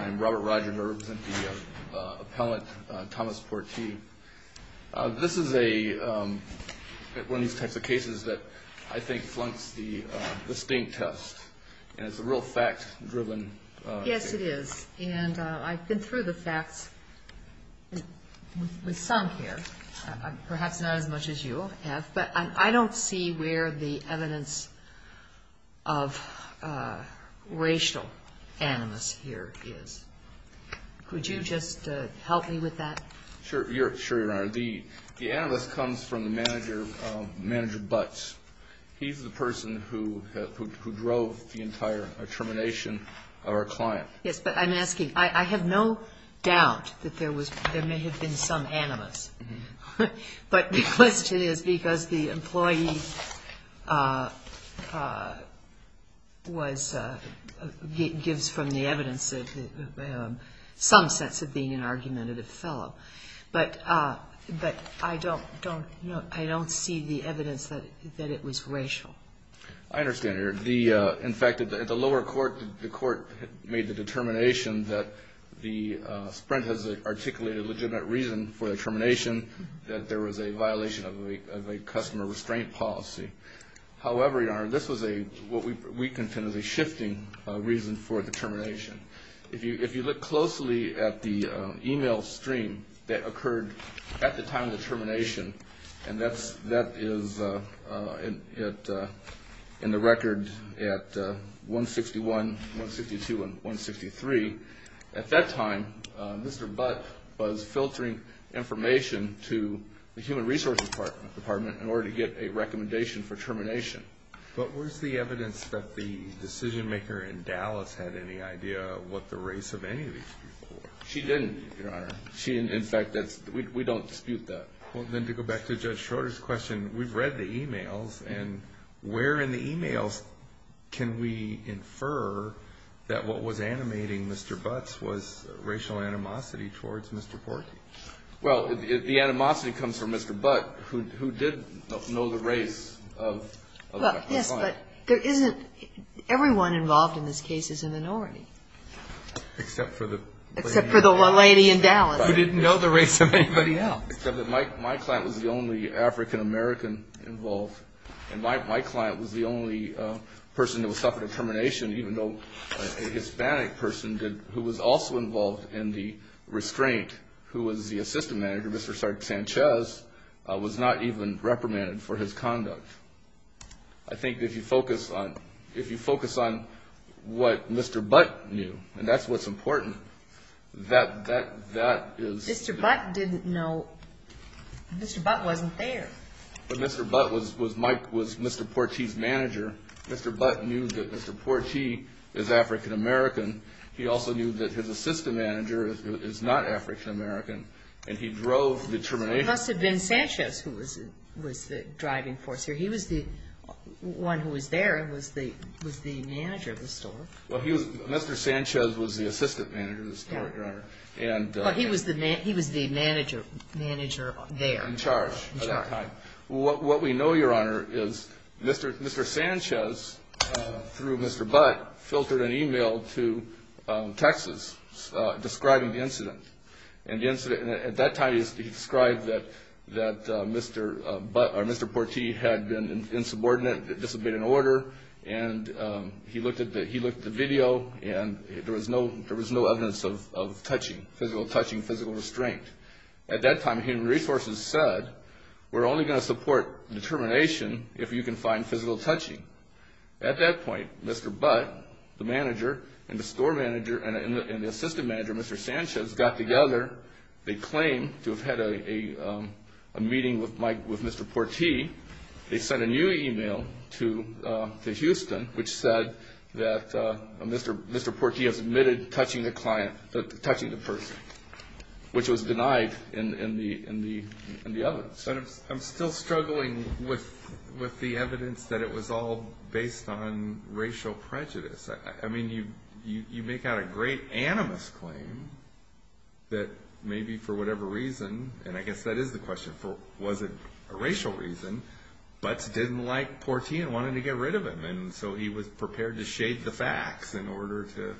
I'm Robert Roger, and I represent the appellant Thomas Portee. This is one of these types of cases that I think flunks the sting test, and it's a real fact-driven case. of racial animus here is. Could you just help me with that? Sure, Your Honor. The animus comes from the manager, manager Butts. He's the person who drove the entire termination of our client. Yes, but I'm asking, I have no doubt that there was, there may have been some animus. But the question is because the employee was, gives from the evidence some sense of being an argumentative fellow. But I don't, I don't see the evidence that it was racial. I understand, Your Honor. In fact, at the lower court, the court made the determination that the Sprint has articulated a legitimate reason for the termination, that there was a violation of a customer restraint policy. However, Your Honor, this was a, what we contend is a shifting reason for the termination. If you look closely at the email stream that occurred at the time of the termination, and that is in the record at 161, 162, and 163. At that time, Mr. Butts was filtering information to the Human Resources Department in order to get a recommendation for termination. But was the evidence that the decision maker in Dallas had any idea what the race of any of these people were? She didn't, Your Honor. She, in fact, we don't dispute that. Well, then to go back to Judge Schroeder's question, we've read the emails, and where in the emails can we infer that what was animating Mr. Butts was racial animosity towards Mr. Porky? Well, if the animosity comes from Mr. Butts, who did know the race of that client? Well, yes, but there isn't, everyone involved in this case is a minority. Except for the lady in Dallas. Except for the lady in Dallas. Who didn't know the race of anybody else. Except that my client was the only African-American involved. And my client was the only person who suffered a termination, even though a Hispanic person did, who was also involved in the restraint, who was the assistant manager, Mr. Sanchez, was not even reprimanded for his conduct. I think if you focus on what Mr. Butts knew, and that's what's important, that is... But Mr. Butts didn't know, Mr. Butts wasn't there. But Mr. Butts was, Mike was Mr. Porchy's manager. Mr. Butts knew that Mr. Porchy is African-American. He also knew that his assistant manager is not African-American, and he drove the termination... It must have been Sanchez who was the driving force here. He was the one who was there, was the manager of the store. Well, he was, Mr. Sanchez was the assistant manager of the store, Your Honor, and... But he was the manager there. In charge at that time. In charge. What we know, Your Honor, is Mr. Sanchez, through Mr. Butts, filtered an email to Texas describing the incident. And at that time, he described that Mr. Butts, or Mr. Porchy, had been insubordinate, disobeyed an order, and he looked at the video, and there was no evidence of touching, physical touching, physical restraint. At that time, Human Resources said, we're only going to support termination if you can find physical touching. At that point, Mr. Butts, the manager, and the store manager, and the assistant manager, Mr. Sanchez, got together. They claimed to have had a meeting with Mr. Porchy. They sent a new email to Houston, which said that Mr. Porchy has admitted touching the person, which was denied in the evidence. I'm still struggling with the evidence that it was all based on racial prejudice. I mean, you make out a great animus claim that maybe for whatever reason, and I guess that is the question, was it a racial reason, Butts didn't like Porchy and wanted to get rid of him. And so he was prepared to shade the facts in order to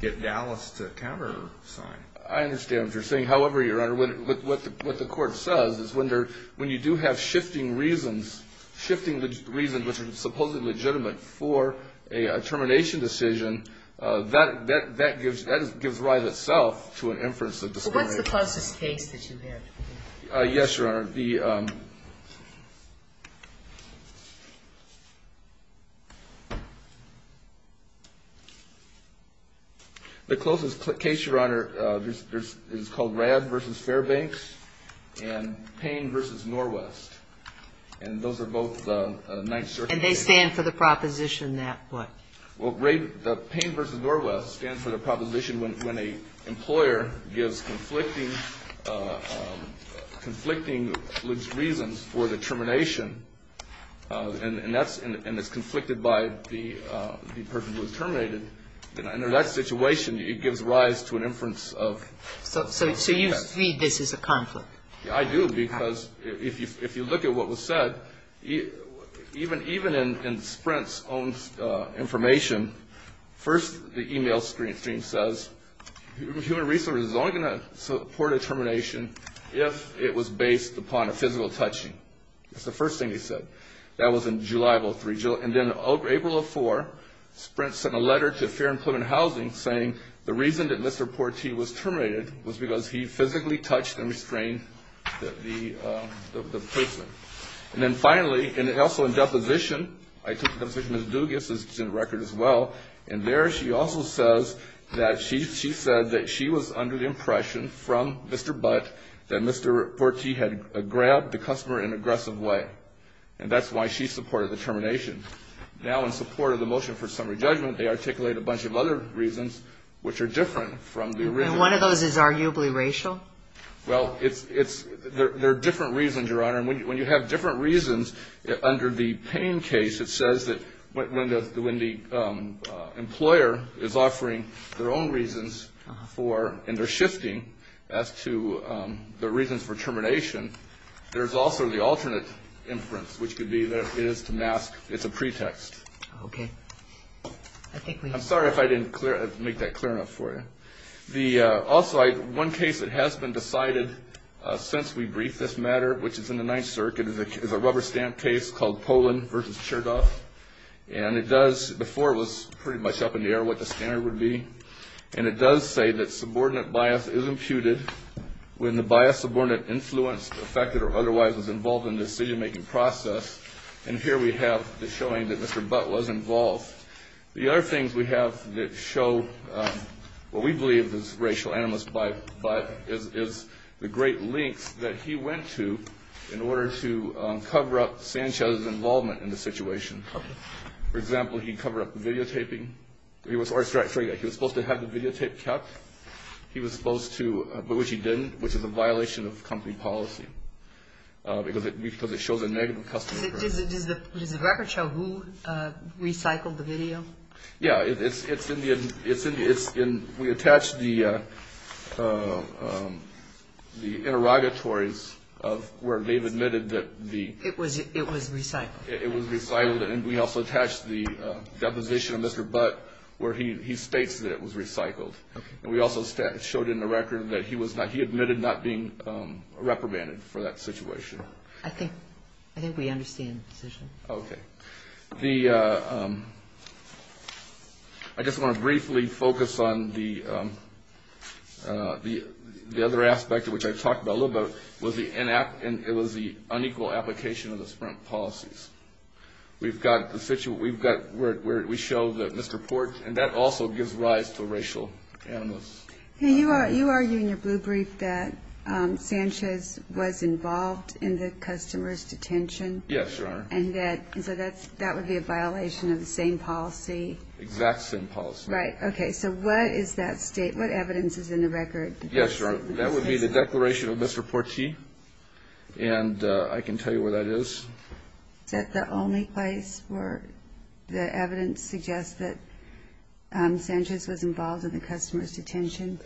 get Dallas to countersign. I understand what you're saying. However, Your Honor, what the court says is when you do have shifting reasons, shifting reasons which are supposedly legitimate for a termination decision, that gives rise itself to an inference of discrimination. What's the closest case that you have? Yes, Your Honor. The closest case, Your Honor, is called Radd v. Fairbanks and Payne v. Norwest. And those are both the Ninth Circuit cases. And they stand for the proposition that what? for the termination. And it's conflicted by the person who was terminated. And in that situation, it gives rise to an inference of. So you see this as a conflict? I do, because if you look at what was said, even in Sprint's own information, first the e-mail stream says human resources is only going to support a termination if it was based upon a physical touching. That's the first thing he said. That was in July of 2003. And then April of 2004, Sprint sent a letter to Fair and Pleasant Housing saying the reason that Mr. Porchy was terminated was because he physically touched and restrained the person. And then finally, and also in deposition, I took the deposition of Ms. Dugas, which is in the record as well, and there she also says that she said that she was under the impression from Mr. Butt that Mr. Porchy had grabbed the customer in an aggressive way. And that's why she supported the termination. Now in support of the motion for summary judgment, they articulate a bunch of other reasons, which are different from the original. And one of those is arguably racial? Well, there are different reasons, Your Honor. And when you have different reasons, under the Payne case it says that when the employer is offering their own reasons and they're shifting as to the reasons for termination, there's also the alternate inference, which could be that it is to mask. It's a pretext. Okay. I'm sorry if I didn't make that clear enough for you. Also, one case that has been decided since we briefed this matter, which is in the Ninth Circuit, is a rubber stamp case called Polin v. Cherdoff. And it does, before it was pretty much up in the air what the standard would be, and it does say that subordinate bias is imputed when the bias subordinate influenced, affected, or otherwise was involved in the decision-making process. And here we have the showing that Mr. Butt was involved. The other things we have that show what we believe is racial animus by Butt is the great links that he went to in order to cover up Sanchez's involvement in the situation. Okay. For example, he covered up the videotaping. He was supposed to have the videotape kept. He was supposed to, but which he didn't, which is a violation of company policy because it shows a negative customer. Does the record show who recycled the video? Yeah. It's in the we attached the interrogatories of where they've admitted that the It was recycled. It was recycled, and we also attached the deposition of Mr. Butt where he states that it was recycled. Okay. And we also showed in the record that he admitted not being reprimanded for that situation. I think we understand the decision. Okay. I just want to briefly focus on the other aspect of which I've talked a little bit about, and it was the unequal application of the sprint policies. We've got the situation where we show that Mr. Port, and that also gives rise to racial animus. You argue in your blue brief that Sanchez was involved in the customer's detention. Yes, Your Honor. And so that would be a violation of the same policy. Exact same policy. Right. Okay. So what is that state? What evidence is in the record? Yes, Your Honor. That would be the declaration of Mr. Porti, and I can tell you where that is. Is that the only place where the evidence suggests that Sanchez was involved in the customer's detention?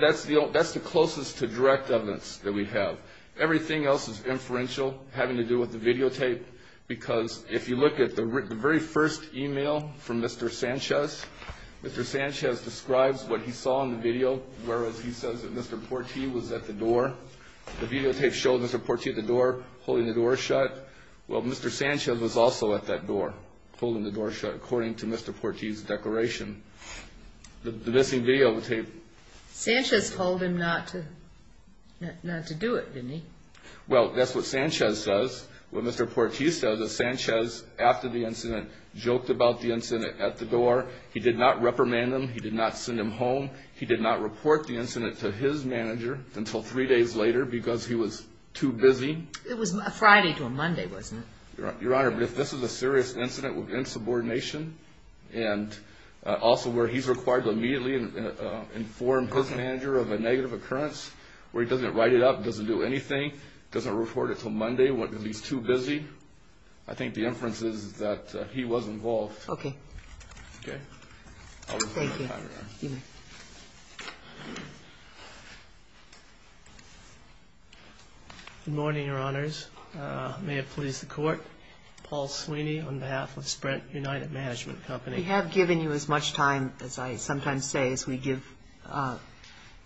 That's the closest to direct evidence that we have. Everything else is inferential, having to do with the videotape, because if you look at the very first email from Mr. Sanchez, Mr. Sanchez describes what he saw in the video, whereas he says that Mr. Porti was at the door. The videotape showed Mr. Porti at the door, holding the door shut. Well, Mr. Sanchez was also at that door, holding the door shut, according to Mr. Porti's declaration. The missing videotape. Sanchez told him not to do it, didn't he? Well, that's what Sanchez says. What Mr. Porti says is Sanchez, after the incident, joked about the incident at the door. He did not reprimand him. He did not send him home. He did not report the incident to his manager until three days later because he was too busy. It was Friday to a Monday, wasn't it? Your Honor, if this is a serious incident in subordination, and also where he's required to immediately inform his manager of a negative occurrence, where he doesn't write it up, doesn't do anything, doesn't report it until Monday because he's too busy, I think the inference is that he was involved. Okay. Okay? Thank you. Good morning, Your Honors. May it please the Court. Paul Sweeney on behalf of Sprint United Management Company. We have given you as much time, as I sometimes say, as we give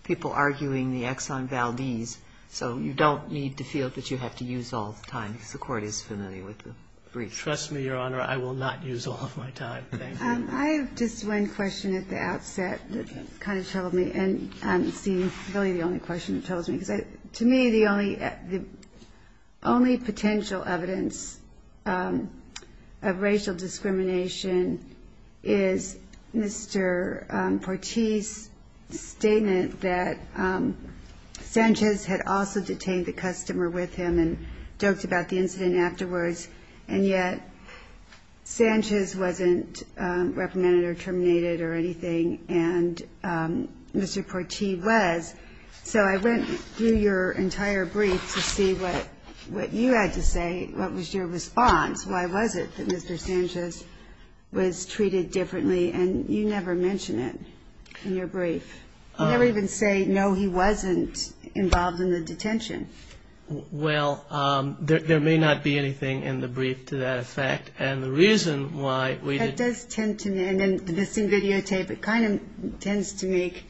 people arguing the Exxon Valdez, so you don't need to feel that you have to use all the time because the Court is familiar with the briefs. Trust me, Your Honor, I will not use all of my time. Thank you. I have just one question at the outset that kind of troubled me, and it's really the only question that troubles me. To me, the only potential evidence of racial discrimination is Mr. Portease's statement that Sanchez had also detained the customer with him and joked about the incident afterwards, and yet Sanchez wasn't reprimanded or terminated or anything, and Mr. Portease was. So I went through your entire brief to see what you had to say, what was your response, why was it that Mr. Sanchez was treated differently, and you never mention it in your brief. You never even say, no, he wasn't involved in the detention. Well, there may not be anything in the brief to that effect, and the reason why we didn't That does tend to me, and then the missing videotape, it kind of tends to make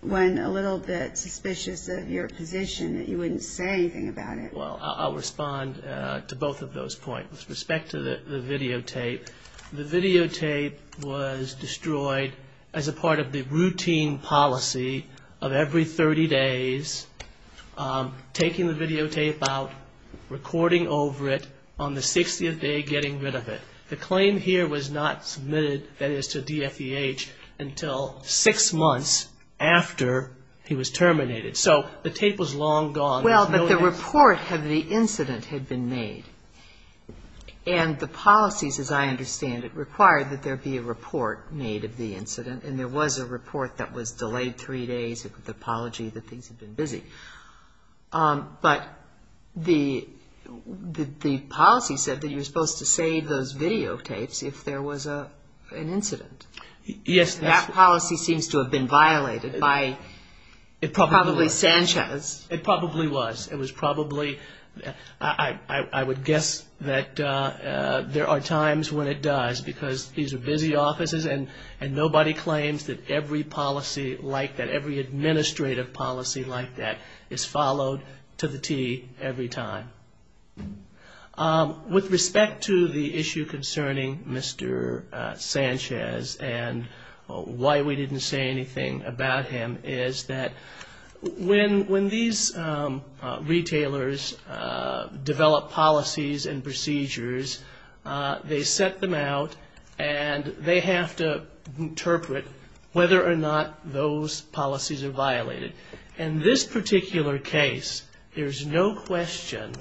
one a little bit suspicious of your position that you wouldn't say anything about it. Well, I'll respond to both of those points. With respect to the videotape, the videotape was destroyed as a part of the routine policy of every 30 days taking the videotape out, recording over it, on the 60th day getting rid of it. The claim here was not submitted, that is, to DFEH until six months after he was terminated. So the tape was long gone. Well, but the report of the incident had been made, and the policies, as I understand it, required that there be a report made of the incident, and there was a report that was delayed three days with the apology that things had been busy. But the policy said that you were supposed to save those videotapes if there was an incident. Yes. That policy seems to have been violated by probably Sanchez. It probably was. It was probably, I would guess that there are times when it does, because these are busy offices and nobody claims that every policy like that, every administrative policy like that is followed to the T every time. With respect to the issue concerning Mr. Sanchez and why we didn't say anything about him, is that when these retailers develop policies and procedures, they set them out and they have to interpret whether or not those policies are violated. In this particular case, there's no question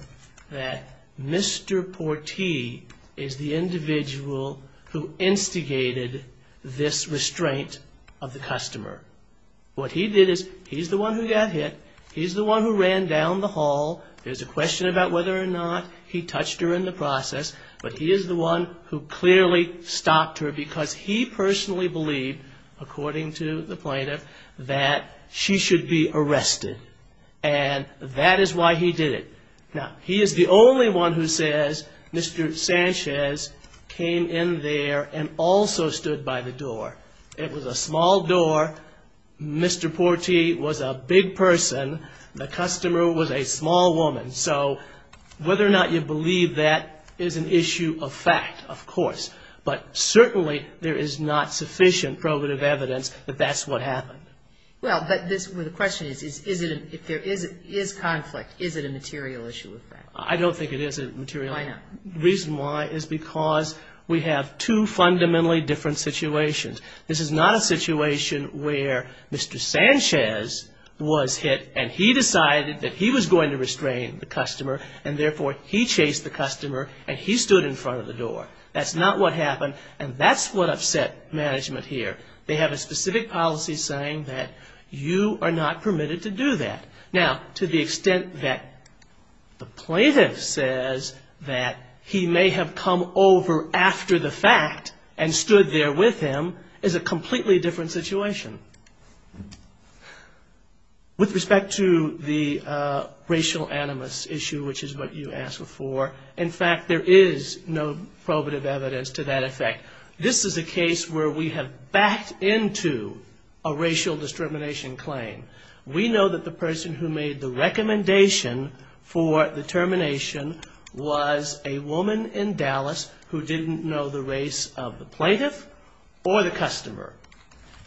that Mr. Portee is the individual who instigated this restraint of the customer. What he did is he's the one who got hit. He's the one who ran down the hall. There's a question about whether or not he touched her in the process, but he is the one who clearly stopped her because he personally believed, according to the plaintiff, that she should be arrested. And that is why he did it. Now, he is the only one who says Mr. Sanchez came in there and also stood by the door. It was a small door. Mr. Portee was a big person. The customer was a small woman. So whether or not you believe that is an issue of fact, of course, but certainly there is not sufficient probative evidence that that's what happened. But the question is, if there is conflict, is it a material issue of fact? I don't think it is a material issue of fact. The reason why is because we have two fundamentally different situations. This is not a situation where Mr. Sanchez was hit and he decided that he was going to restrain the customer, and therefore he chased the customer and he stood in front of the door. That's not what happened, and that's what upset management here. They have a specific policy saying that you are not permitted to do that. Now, to the extent that the plaintiff says that he may have come over after the fact and stood there with him is a completely different situation. With respect to the racial animus issue, which is what you asked before, in fact there is no probative evidence to that effect. This is a case where we have backed into a racial discrimination claim. We know that the person who made the recommendation for the termination was a woman in Dallas who didn't know the race of the plaintiff or the customer.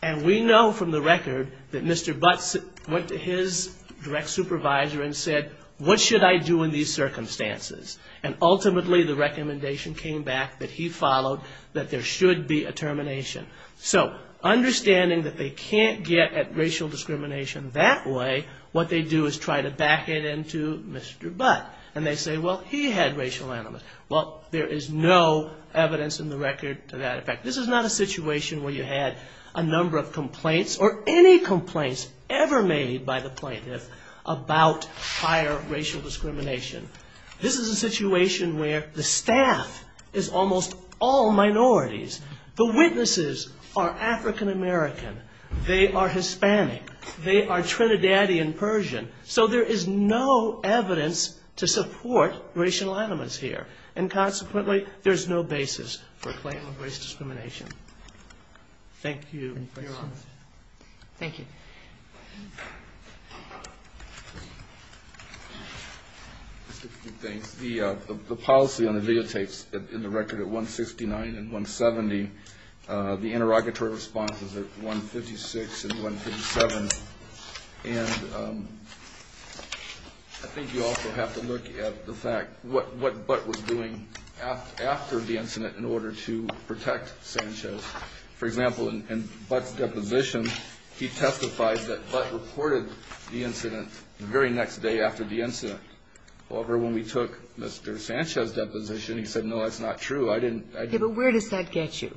And we know from the record that Mr. Butts went to his direct supervisor and said, what should I do in these circumstances? And ultimately the recommendation came back that he followed, that there should be a termination. So understanding that they can't get at racial discrimination that way, what they do is try to back it into Mr. Butts. And they say, well, he had racial animus. Well, there is no evidence in the record to that effect. This is not a situation where you had a number of complaints or any complaints ever made by the plaintiff about higher racial discrimination. This is a situation where the staff is almost all minorities. The witnesses are African American. They are Hispanic. They are Trinidadian Persian. So there is no evidence to support racial animus here. And consequently there is no basis for a claim of race discrimination. Thank you. Thank you. The policy on the videotapes in the record at 169 and 170, the interrogatory responses at 156 and 157. And I think you also have to look at the fact, what Butts was doing after the incident in order to protect Sanchez. For example, in Butts' deposition, he testifies that Butts reported the incident the very next day after the incident. However, when we took Mr. Sanchez's deposition, he said, no, that's not true. I didn't. But where does that get you?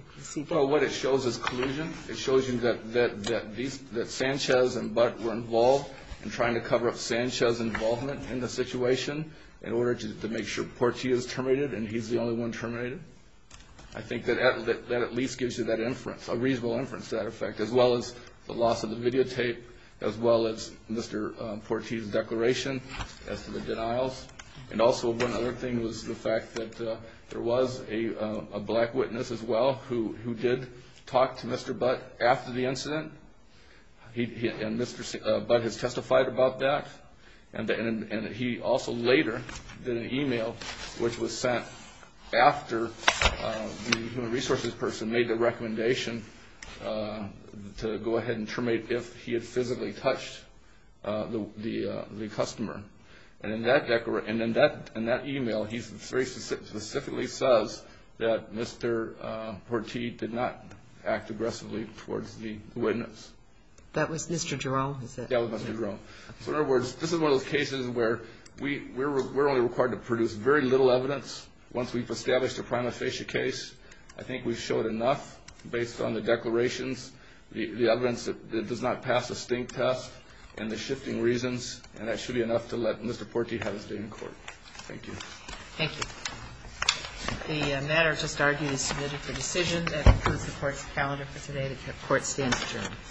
Well, what it shows is collusion. It shows you that Sanchez and Butts were involved in trying to cover up Sanchez's involvement in the situation in order to make sure Portia is terminated and he's the only one terminated. I think that at least gives you that inference, a reasonable inference to that effect, as well as the loss of the videotape, as well as Mr. Portia's declaration as to the denials. And also one other thing was the fact that there was a black witness as well who did talk to Mr. Butts after the incident. And Mr. Butts has testified about that. And he also later did an email which was sent after the human resources person made the recommendation to go ahead and terminate if he had physically touched the customer. And in that email, he very specifically says that Mr. Portia did not act aggressively towards the witness. That was Mr. Jerome who said that? That was Mr. Jerome. So, in other words, this is one of those cases where we're only required to produce very little evidence once we've established a prima facie case. I think we've showed enough based on the declarations, the evidence that does not pass the stink test, and the shifting reasons. And that should be enough to let Mr. Portia have his day in court. Thank you. Thank you. The matter just argued is submitted for decision. That concludes the Court's calendar for today. The Court stands adjourned.